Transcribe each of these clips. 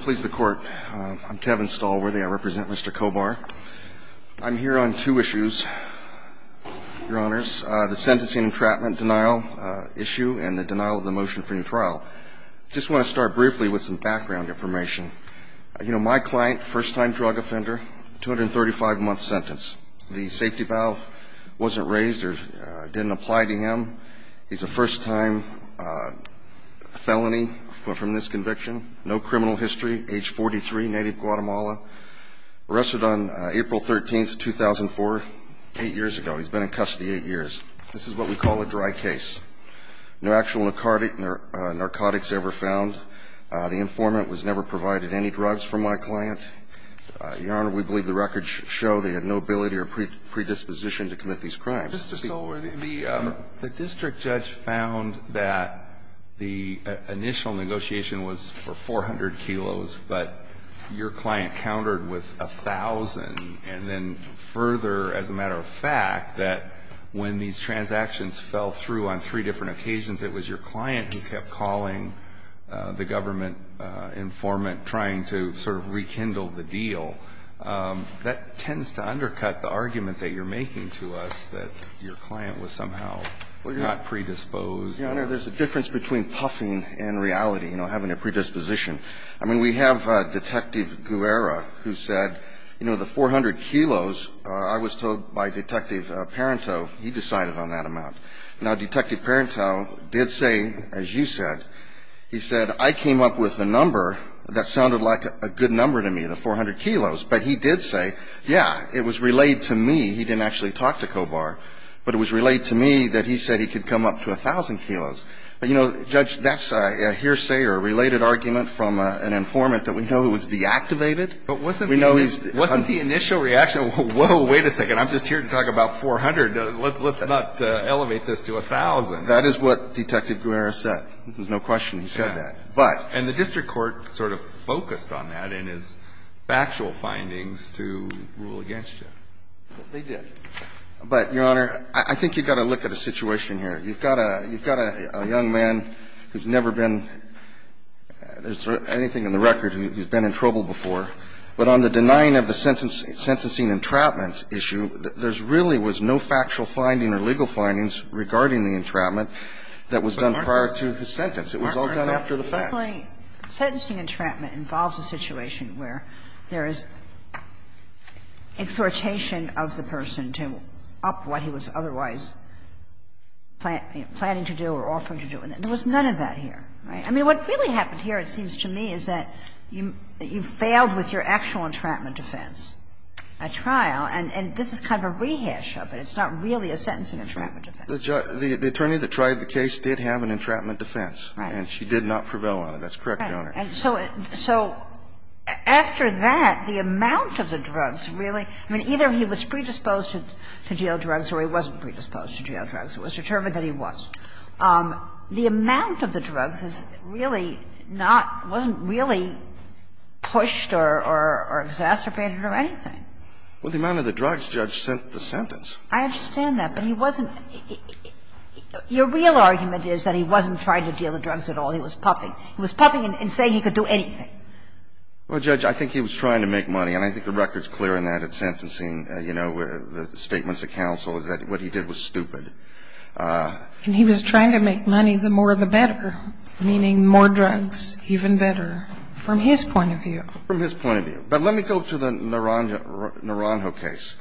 Please the court. I'm Kevin Stalworthy. I represent Mr. Cobar. I'm here on two issues, your honors, the sentencing and entrapment denial issue and the denial of the motion for new trial. I just want to start briefly with some background information. You know, my client, first-time drug offender, 235-month sentence. The safety valve wasn't raised or didn't apply to him. He's a first-time felony from this conviction. No criminal history, age 43, native Guatemala. Arrested on April 13, 2004, 8 years ago. He's been in custody 8 years. This is what we call a dry case. No actual narcotics ever found. The informant was never provided any drugs from my client. Your Honor, we believe the records show they had no ability or predisposition to commit these crimes. Mr. Stalworthy, the district judge found that the initial negotiation was for 400 kilos, but your client countered with 1,000. And then further, as a matter of fact, that when these transactions fell through on three different occasions, it was your client who kept calling the government trying to sort of rekindle the deal. That tends to undercut the argument that you're making to us that your client was somehow not predisposed. Your Honor, there's a difference between puffing and reality, you know, having a predisposition. I mean, we have Detective Guerra who said, you know, the 400 kilos, I was told by Detective Parenteau, he decided on that amount. Now, Detective Parenteau did say, as you said, he said, I came up with a number that sounded like a good number to me, the 400 kilos. But he did say, yeah, it was relayed to me, he didn't actually talk to Kovar, but it was relayed to me that he said he could come up to 1,000 kilos. But, you know, Judge, that's a hearsay or a related argument from an informant that we know was deactivated. But wasn't the initial reaction, whoa, wait a second, I'm just here to talk about 400. Let's not elevate this to 1,000. That is what Detective Guerra said. There's no question he said that. And the district court sort of focused on that in his factual findings to rule against you. They did. But, Your Honor, I think you've got to look at a situation here. You've got a young man who's never been – there's anything in the record who's been in trouble before. But on the denying of the sentencing entrapment issue, there's really was no factual finding or legal findings regarding the entrapment that was done prior to the sentence. It was all done after the fact. Sentencing entrapment involves a situation where there is exhortation of the person to up what he was otherwise planning to do or offering to do. And there was none of that here. Right? I mean, what really happened here, it seems to me, is that you failed with your actual entrapment defense at trial. And this is kind of a rehash of it. It's not really a sentencing entrapment defense. The attorney that tried the case did have an entrapment defense. Right. And she did not prevail on it. That's correct, Your Honor. And so after that, the amount of the drugs really – I mean, either he was predisposed to deal drugs or he wasn't predisposed to deal drugs. It was determined that he was. The amount of the drugs is really not – wasn't really pushed or exacerbated or anything. Well, the amount of the drugs, Judge, sent the sentence. I understand that. But he wasn't – your real argument is that he wasn't trying to deal the drugs at all. He was puffing. He was puffing and saying he could do anything. Well, Judge, I think he was trying to make money. And I think the record is clear in that, in sentencing, you know, the statements of counsel, is that what he did was stupid. And he was trying to make money, the more the better, meaning more drugs, even better, from his point of view. From his point of view. But let me go to the Naranjo case.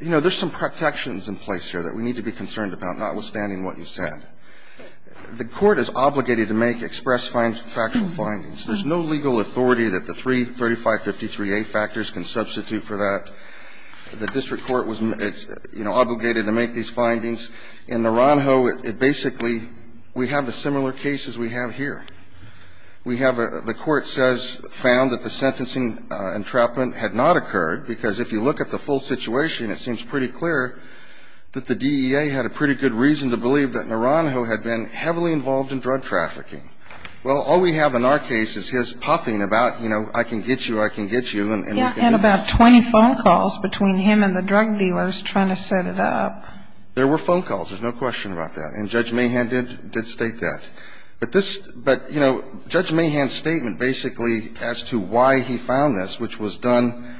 You know, there's some protections in place here that we need to be concerned about, notwithstanding what you said. The Court is obligated to make express factual findings. There's no legal authority that the three 3553A factors can substitute for that. The district court was, you know, obligated to make these findings. In Naranjo, it basically – we have the similar cases we have here. We have a – the Court says – found that the sentencing entrapment had not occurred, because if you look at the full situation, it seems pretty clear that the DEA had a pretty good reason to believe that Naranjo had been heavily involved in drug trafficking. Well, all we have in our case is his puffing about, you know, I can get you, I can get you, and we can get you. And about 20 phone calls between him and the drug dealers trying to set it up. There were phone calls. There's no question about that. And Judge Mahan did state that. But this – but, you know, Judge Mahan's statement basically as to why he found this, which was done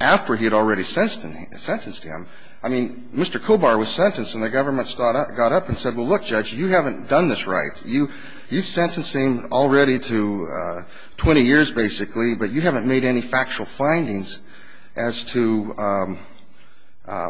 after he had already sentenced him, I mean, Mr. Kobar was sentenced and the government got up and said, well, look, Judge, you haven't done this right. You've sentencing already to 20 years, basically, but you haven't made any factual findings as to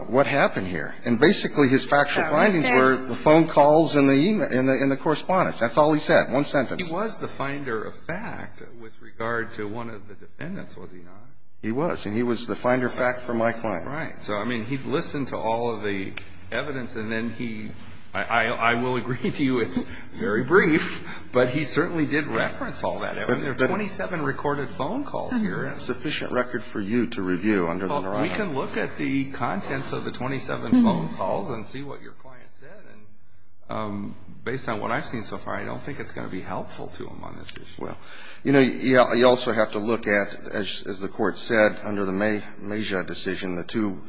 what happened here. And basically his factual findings were the phone calls and the correspondence. That's all he said. One sentence. He was the finder of fact with regard to one of the defendants, was he not? He was. And he was the finder of fact for my client. Right. And so, I mean, he listened to all of the evidence, and then he – I will agree to you it's very brief, but he certainly did reference all that. I mean, there are 27 recorded phone calls here. And we have sufficient record for you to review under the Naranjo. Well, we can look at the contents of the 27 phone calls and see what your client said. And based on what I've seen so far, I don't think it's going to be helpful to him on this issue. Well, you know, you also have to look at, as the Court said, under the Mejia decision, the two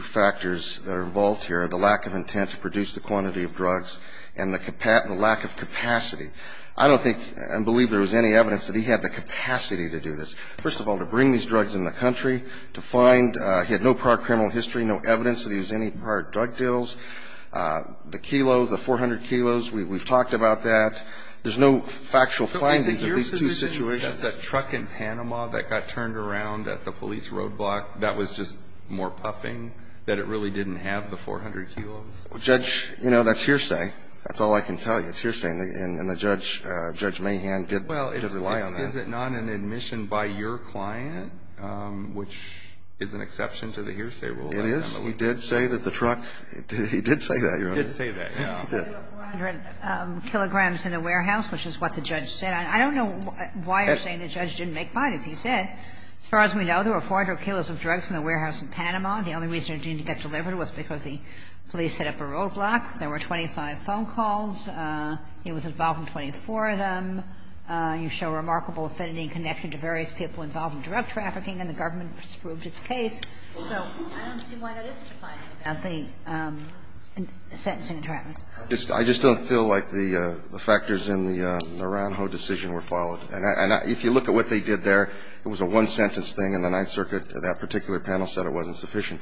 factors that are involved here are the lack of intent to produce the quantity of drugs and the lack of capacity. I don't think and believe there was any evidence that he had the capacity to do this. First of all, to bring these drugs in the country, to find – he had no prior criminal history, no evidence that he was any prior to drug deals. The kilos, the 400 kilos, we've talked about that. There's no factual findings of these two situations. The truck in Panama that got turned around at the police roadblock, that was just more puffing, that it really didn't have the 400 kilos? Judge, you know, that's hearsay. That's all I can tell you. It's hearsay. And the judge, Judge Mahan, did rely on that. Well, is it not an admission by your client, which is an exception to the hearsay rule? It is. We did say that the truck – he did say that, Your Honor. He did say that, yeah. He did. 400 kilograms in a warehouse, which is what the judge said. I don't know why you're saying the judge didn't make findings. He said, as far as we know, there were 400 kilos of drugs in the warehouse in Panama. The only reason it didn't get delivered was because the police set up a roadblock. There were 25 phone calls. He was involved in 24 of them. You show remarkable affinity and connection to various people involved in drug trafficking, and the government has proved its case. I just don't feel like the factors in the Naranjo decision were followed. And if you look at what they did there, it was a one-sentence thing, and the Ninth Circuit, that particular panel, said it wasn't sufficient.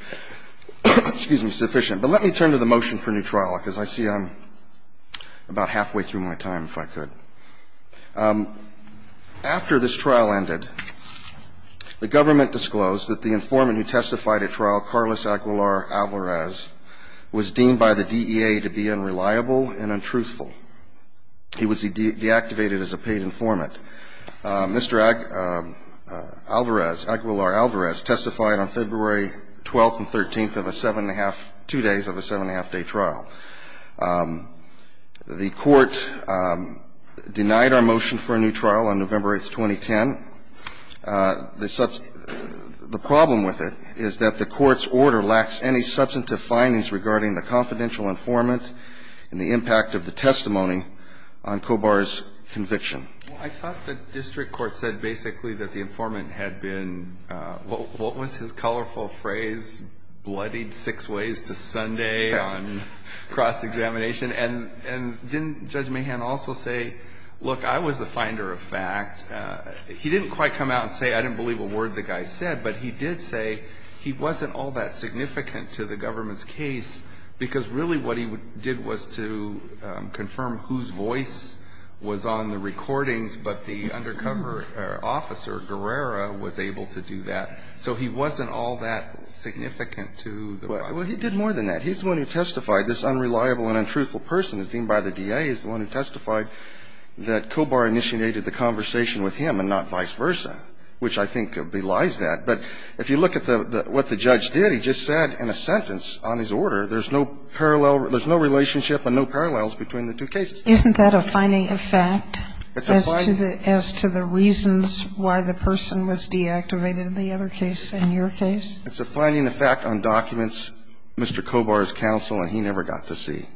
Excuse me, sufficient. But let me turn to the motion for new trial, because I see I'm about halfway through my time, if I could. After this trial ended, the government disclosed that the informant who testified at trial, Carlos Aguilar Alvarez, was deemed by the DEA to be unreliable and untruthful. He was deactivated as a paid informant. Mr. Alvarez, Aguilar Alvarez, testified on February 12th and 13th of a seven-and-a-half – two days of a seven-and-a-half-day trial. The Court denied our motion for a new trial on November 8th, 2010. The problem with it is that the Court's order lacks any substantive findings regarding the confidential informant and the impact of the testimony on Kobar's conviction. I thought the district court said basically that the informant had been – what was his colorful phrase, bloodied six ways to Sunday on cross-examination? And didn't Judge Mahan also say, look, I was the finder of fact. He didn't quite come out and say I didn't believe a word the guy said, but he did say he wasn't all that significant to the government's case, because really what he did was to confirm whose voice was on the recordings, but the undercover officer, Guerrero, was able to do that. So he wasn't all that significant to the process. Well, he did more than that. He's the one who testified. This unreliable and untruthful person is deemed by the DEA as the one who testified that Kobar initiated the conversation with him and not vice versa, which I think belies that. But if you look at what the judge did, he just said in a sentence on his order, there's no parallel – there's no relationship and no parallels between the two cases. Isn't that a finding of fact as to the reasons why the person was deactivated in the other case, in your case? It's a finding of fact on documents, Mr. Kobar's counsel, and he never got to see.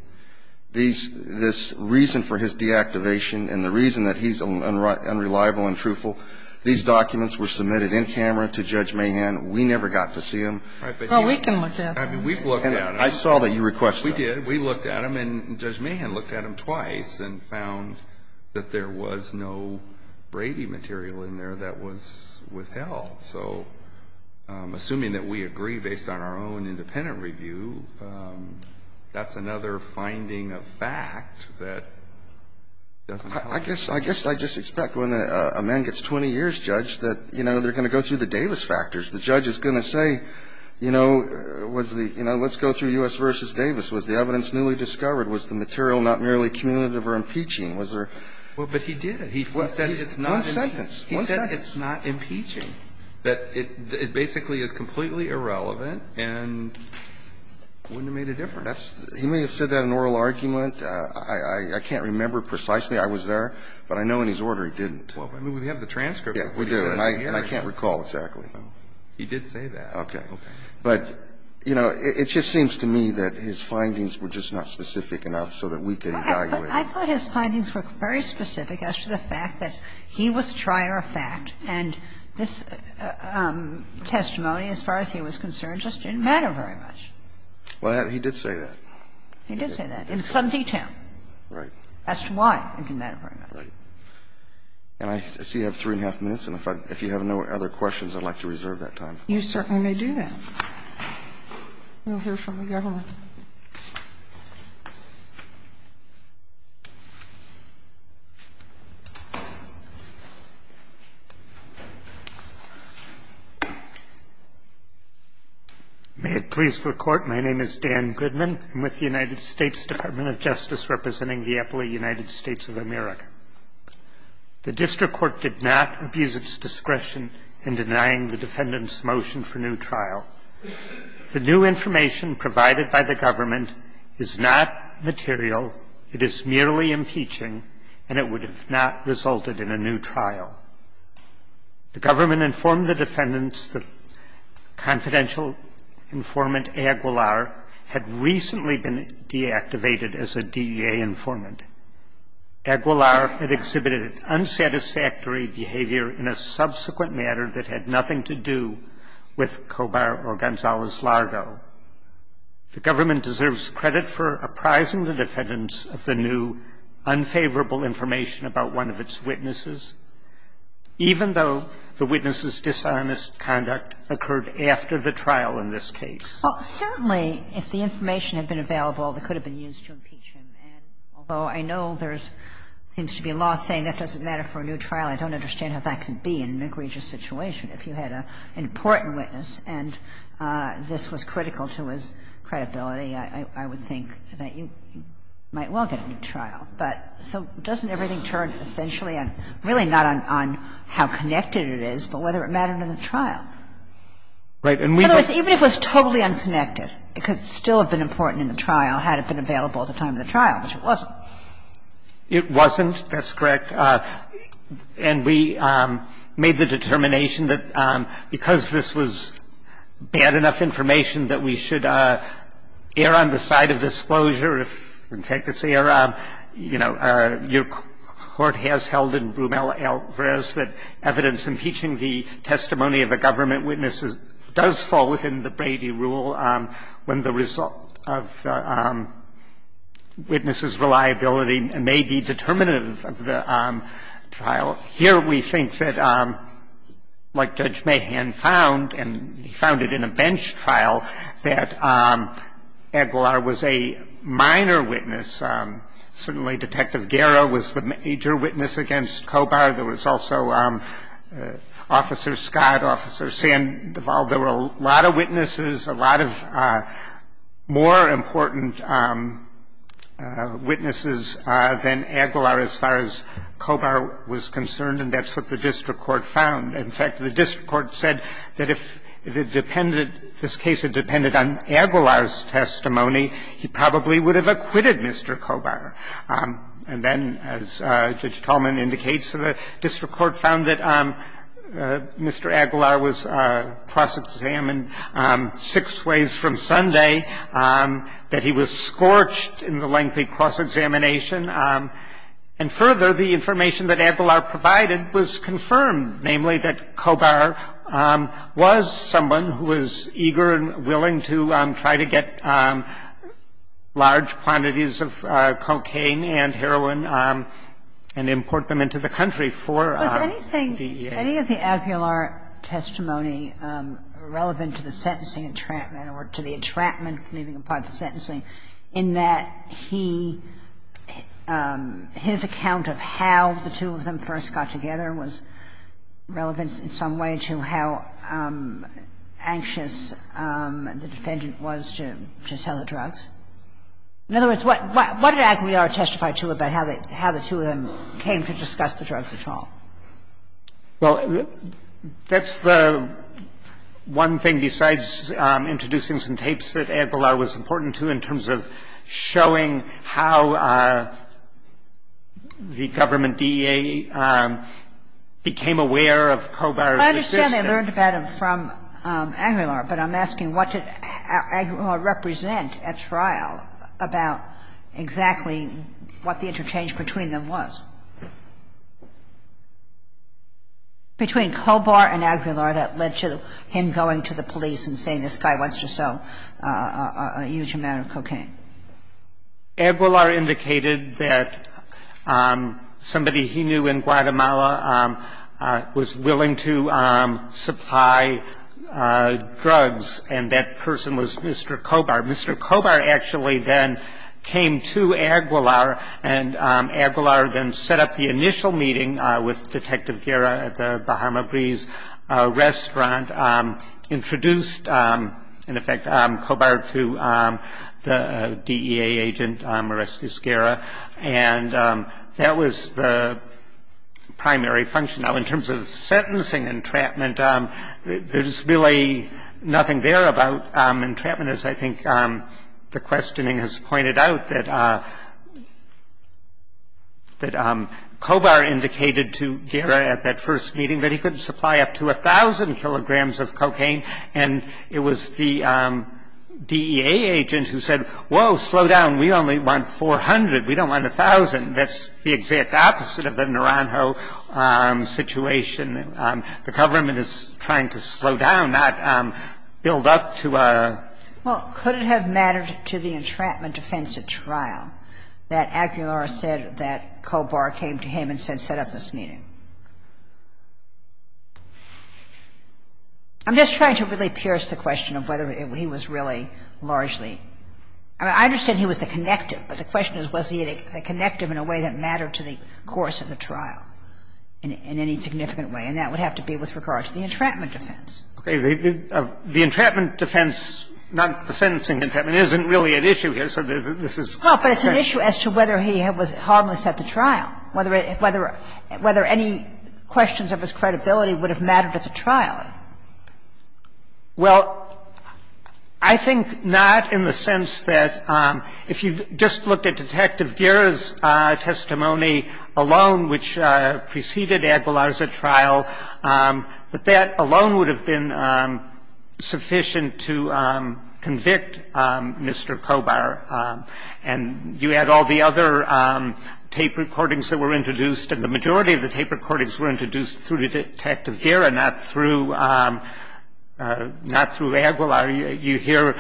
This reason for his deactivation and the reason that he's unreliable and truthful, these documents were submitted in camera to Judge Mahan. We never got to see them. Well, we can look at them. I mean, we've looked at them. I saw that you requested that. We did. We looked at them, and Judge Mahan looked at them twice and found that there was no Brady material in there that was withheld. So assuming that we agree based on our own independent review, that's another finding of fact that doesn't help. I guess – I guess I just expect when a man gets 20 years, Judge, that, you know, they're going to go through the Davis factors. The judge is going to say, you know, was the – you know, let's go through U.S. v. Davis. Was the evidence newly discovered? Was the material not merely cumulative or impeaching? Was there – Well, but he did. He said it's not impeaching. One sentence. He said it's not impeaching, that it basically is completely irrelevant and wouldn't have made a difference. in an oral argument. That's – he may have said that in an oral argument. I can't remember precisely. I was there, but I know in his order he didn't. Well, I mean, we have the transcript of what he said. Yeah, we do. And I can't recall exactly. He did say that. Okay. Okay. But, you know, it just seems to me that his findings were just not specific enough so that we could evaluate. Okay. I thought his findings were very specific as to the fact that he was trier of fact and this testimony, as far as he was concerned, just didn't matter very much. Well, he did say that. He did say that in some detail. Right. As to why it didn't matter very much. Right. And I see I have three and a half minutes, and if you have no other questions, I'd like to reserve that time. You certainly may do that. We'll hear from the government. Mr. Goodman. May it please the Court. My name is Dan Goodman. I'm with the United States Department of Justice representing the Eppley United States of America. The district court did not abuse its discretion in denying the defendant's motion for new trial. The new information provided by the government is not material. It is merely impeaching, and it would have not resulted in a new trial. The government informed the defendants that confidential informant Aguilar had recently been deactivated as a DEA informant. Aguilar had exhibited an unsatisfactory behavior in a subsequent matter that had nothing to do with Cobar or Gonzales-Largo. The government deserves credit for apprising the defendants of the new unfavorable information about one of its witnesses, even though the witness's dishonest conduct occurred after the trial in this case. Well, certainly, if the information had been available, it could have been used to impeach him. And although I know there seems to be a law saying that doesn't matter for a new trial, I don't understand how that could be in McReach's situation. If you had an important witness and this was critical to his credibility, I would think that you might well get a new trial. But so doesn't everything turn essentially on, really not on how connected it is, but whether it mattered in the trial? In other words, even if it was totally unconnected, it could still have been important in the trial had it been available at the time of the trial, which it wasn't. It wasn't. That's correct. And we made the determination that because this was bad enough information that we should err on the side of disclosure. If, in fact, it's error, you know, your court has held in Brumell v. Alvarez that evidence impeaching the testimony of the government witnesses does fall within the Brady rule when the result of the witness's reliability may be determinative of the trial. Here we think that, like Judge Mahan found, and he found it in a bench trial, that Aguilar was a minor witness. Certainly Detective Guerra was the major witness against Kobar. There was also Officer Scott, Officer Sandoval. There were a lot of witnesses, a lot of more important witnesses than Aguilar as far as Kobar was concerned. And that's what the district court found. In fact, the district court said that if it depended, if this case had depended on Aguilar's testimony, he probably would have acquitted Mr. Kobar. And then, as Judge Tolman indicates, the district court found that Mr. Aguilar was cross-examined six ways from Sunday, that he was scorched in the lengthy cross-examination, and further, the information that Aguilar provided was confirmed, namely that Kobar was someone who was eager and willing to try to get large quantities of cocaine and heroin and import them into the country for DEA. Kagan. Any of the Aguilar testimony relevant to the sentencing entrapment or to the entrapment leaving apart the sentencing in that he, his account of how the two of them first got together was relevant in some way to how anxious the defendant was to sell the drug to Aguilar? Or was it something else? Well, that's the one thing besides introducing some tapes that Aguilar was important to in terms of showing how the government DEA became aware of Kobar's decision. I understand they learned about him from Aguilar, but I'm asking what did Aguilar represent at trial about exactly what the interchange between them was? Between Kobar and Aguilar, that led to him going to the police and saying, this guy wants to sell a huge amount of cocaine. Aguilar indicated that somebody he knew in Guatemala was willing to supply drugs, and that person was Mr. Kobar. Mr. Kobar actually then came to Aguilar, and Aguilar then set up the initial meeting with Detective Guerra at the Bahama Breeze restaurant, introduced, in effect, Kobar to the DEA agent, Mariscus Guerra, and that was the primary function. Now, in terms of sentencing entrapment, there's really nothing there about entrapment, as I think the questioning has pointed out, that Kobar indicated to Guerra at that first meeting that he couldn't supply up to 1,000 kilograms of cocaine, and it was the DEA agent who said, whoa, slow down, we only want 400, we don't want 1,000. And that's the exact opposite of the Naranjo situation. The government is trying to slow down, not build up to a ---- Well, could it have mattered to the entrapment defense at trial that Aguilar said that Kobar came to him and said set up this meeting? I'm just trying to really pierce the question of whether he was really largely I mean, I understand he was the connective, but the question is was he the connective in a way that mattered to the course of the trial in any significant way, and that would have to be with regard to the entrapment defense. Okay. The entrapment defense, not the sentencing entrapment, isn't really at issue here, so this is the question. No, but it's an issue as to whether he was harmless at the trial, whether any questions of his credibility would have mattered at the trial. Well, I think not in the sense that if you just looked at Detective Guerra's testimony alone, which preceded Aguilar's trial, that that alone would have been sufficient to convict Mr. Kobar. And you had all the other tape recordings that were introduced, and the majority of the tape recordings were introduced through Detective Guerra, not through Aguilar. You hear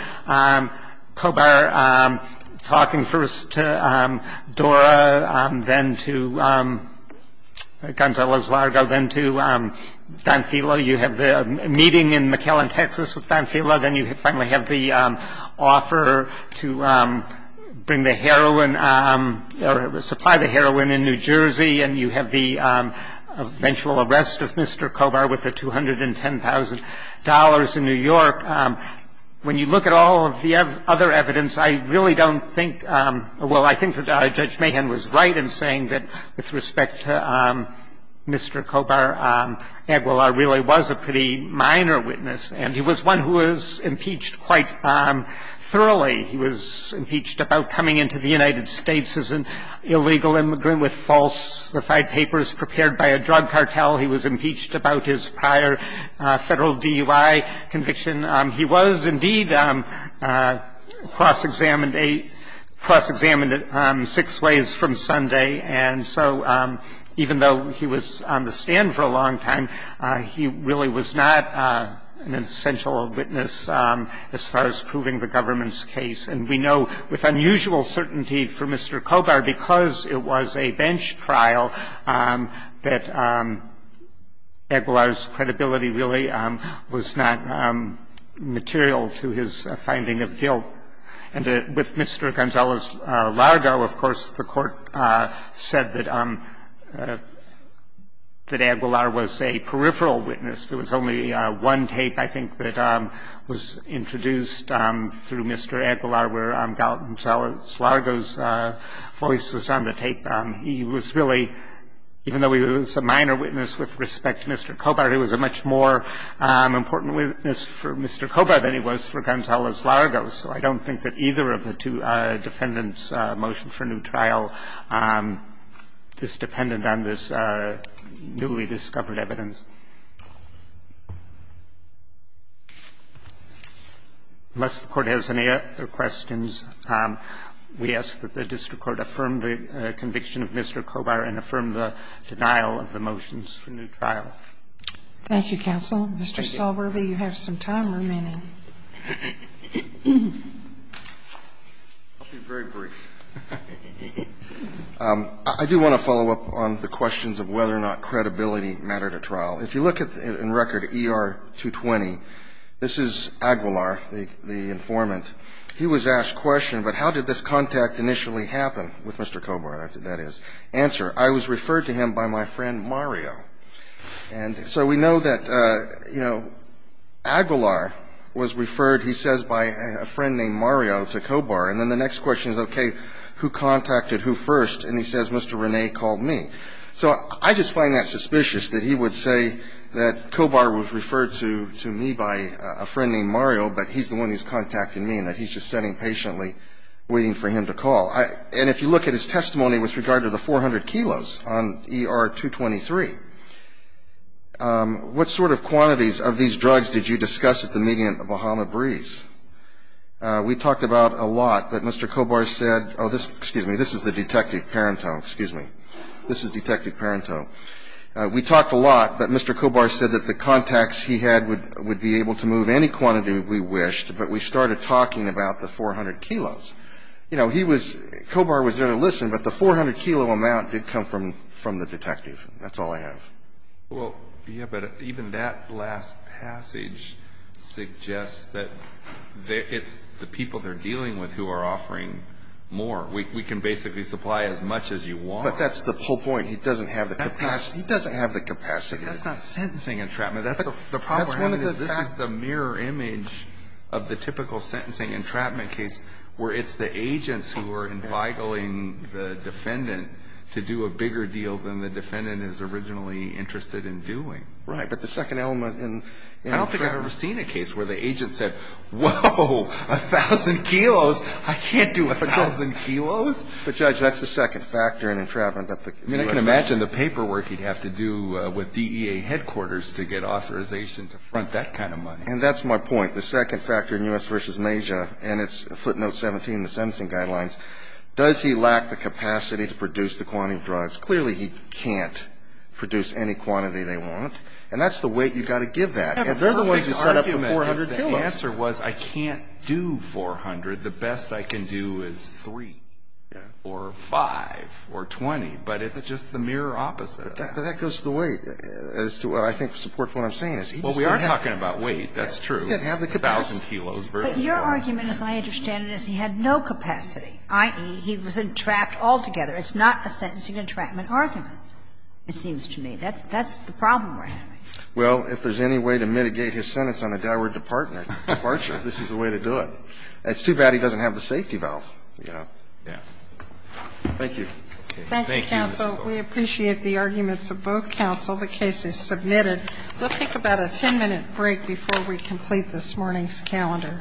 Kobar talking first to Dora, then to Gonzalo Zlargo, then to Don Filo. You have the meeting in McAllen, Texas with Don Filo, then you finally have the offer to bring the heroin or supply the heroin in New Jersey, and you have the eventual arrest of Mr. Kobar with the $210,000 in New York. When you look at all of the other evidence, I really don't think – well, I think that Judge Mahan was right in saying that with respect to Mr. Kobar, Aguilar really was a pretty minor witness, and he was one who was impeached quite thoroughly. He was impeached about coming into the United States as an illegal immigrant with falsified papers prepared by a drug cartel. He was impeached about his prior Federal DUI conviction. He was indeed cross-examined six ways from Sunday. And so even though he was on the stand for a long time, he really was not an essential witness as far as proving the government's case. And we know with unusual certainty for Mr. Kobar, because it was a bench trial, that Aguilar's credibility really was not material to his finding of guilt. And with Mr. Gonzalo Zlargo, of course, the Court said that Aguilar was a pretty peripheral witness. There was only one tape, I think, that was introduced through Mr. Aguilar, where Gonzalo Zlargo's voice was on the tape. He was really, even though he was a minor witness with respect to Mr. Kobar, he was a much more important witness for Mr. Kobar than he was for Gonzalo Zlargo. So I don't think that either of the two defendants' motion for new trial is dependent on this newly discovered evidence. Unless the Court has any other questions, we ask that the district court affirm the conviction of Mr. Kobar and affirm the denial of the motions for new trial. Thank you, counsel. Mr. Stalworthy, you have some time remaining. I'll be very brief. I do want to follow up on the questions of whether or not credibility mattered at trial. If you look in record ER 220, this is Aguilar, the informant. He was asked a question, but how did this contact initially happen with Mr. Kobar, that is. Answer, I was referred to him by my friend Mario. And so we know that, you know, Aguilar was referred, he says, by a friend named Mario to Kobar. And then the next question is, okay, who contacted who first? And he says, Mr. Rene called me. So I just find that suspicious, that he would say that Kobar was referred to me by a friend named Mario, but he's the one who's contacted me, and that he's just sitting patiently waiting for him to call. And if you look at his testimony with regard to the 400 kilos on ER 223, what sort of quantities of these drugs did you discuss at the meeting at the Bahama Breeze? We talked about a lot, but Mr. Kobar said, oh, this, excuse me, this is the detective Parenteau, excuse me. This is Detective Parenteau. We talked a lot, but Mr. Kobar said that the contacts he had would be able to move any quantity we wished, but we started talking about the 400 kilos. You know, he was, Kobar was there to listen, but the 400 kilo amount did come from the detective. That's all I have. Well, yeah, but even that last passage suggests that it's the people they're dealing with who are offering more. We can basically supply as much as you want. But that's the whole point. He doesn't have the capacity. He doesn't have the capacity. That's not sentencing entrapment. That's the proper handling. That's one of the facts. This is the mirror image of the typical sentencing entrapment case where it's the agents who are entitling the defendant to do a bigger deal than the defendant is originally interested in doing. Right, but the second element in entrapment. I don't think I've ever seen a case where the agent said, Whoa, a thousand kilos? I can't do a thousand kilos. But, Judge, that's the second factor in entrapment that the U.S. I mean, I can imagine the paperwork he'd have to do with DEA headquarters to get authorization to front that kind of money. And that's my point. The second factor in U.S. v. Major, and it's footnote 17 in the sentencing guidelines, does he lack the capacity to produce the quantity of drugs? Clearly, he can't produce any quantity they want. And that's the weight you've got to give that. And they're the ones who set up the 400 kilos. The answer was I can't do 400. The best I can do is 3 or 5 or 20. But it's just the mirror opposite. But that goes to the weight as to what I think supports what I'm saying. Well, we are talking about weight. That's true. A thousand kilos versus 400. But your argument, as I understand it, is he had no capacity, i.e., he was entrapped altogether. It's not a sentencing entrapment argument, it seems to me. That's the problem we're having. Well, if there's any way to mitigate his sentence on a downward departure, this is the way to do it. It's too bad he doesn't have the safety valve. Yeah. Yeah. Thank you. Thank you, counsel. We appreciate the arguments of both counsel. The case is submitted. We'll take about a 10-minute break before we complete this morning's calendar. Thank you.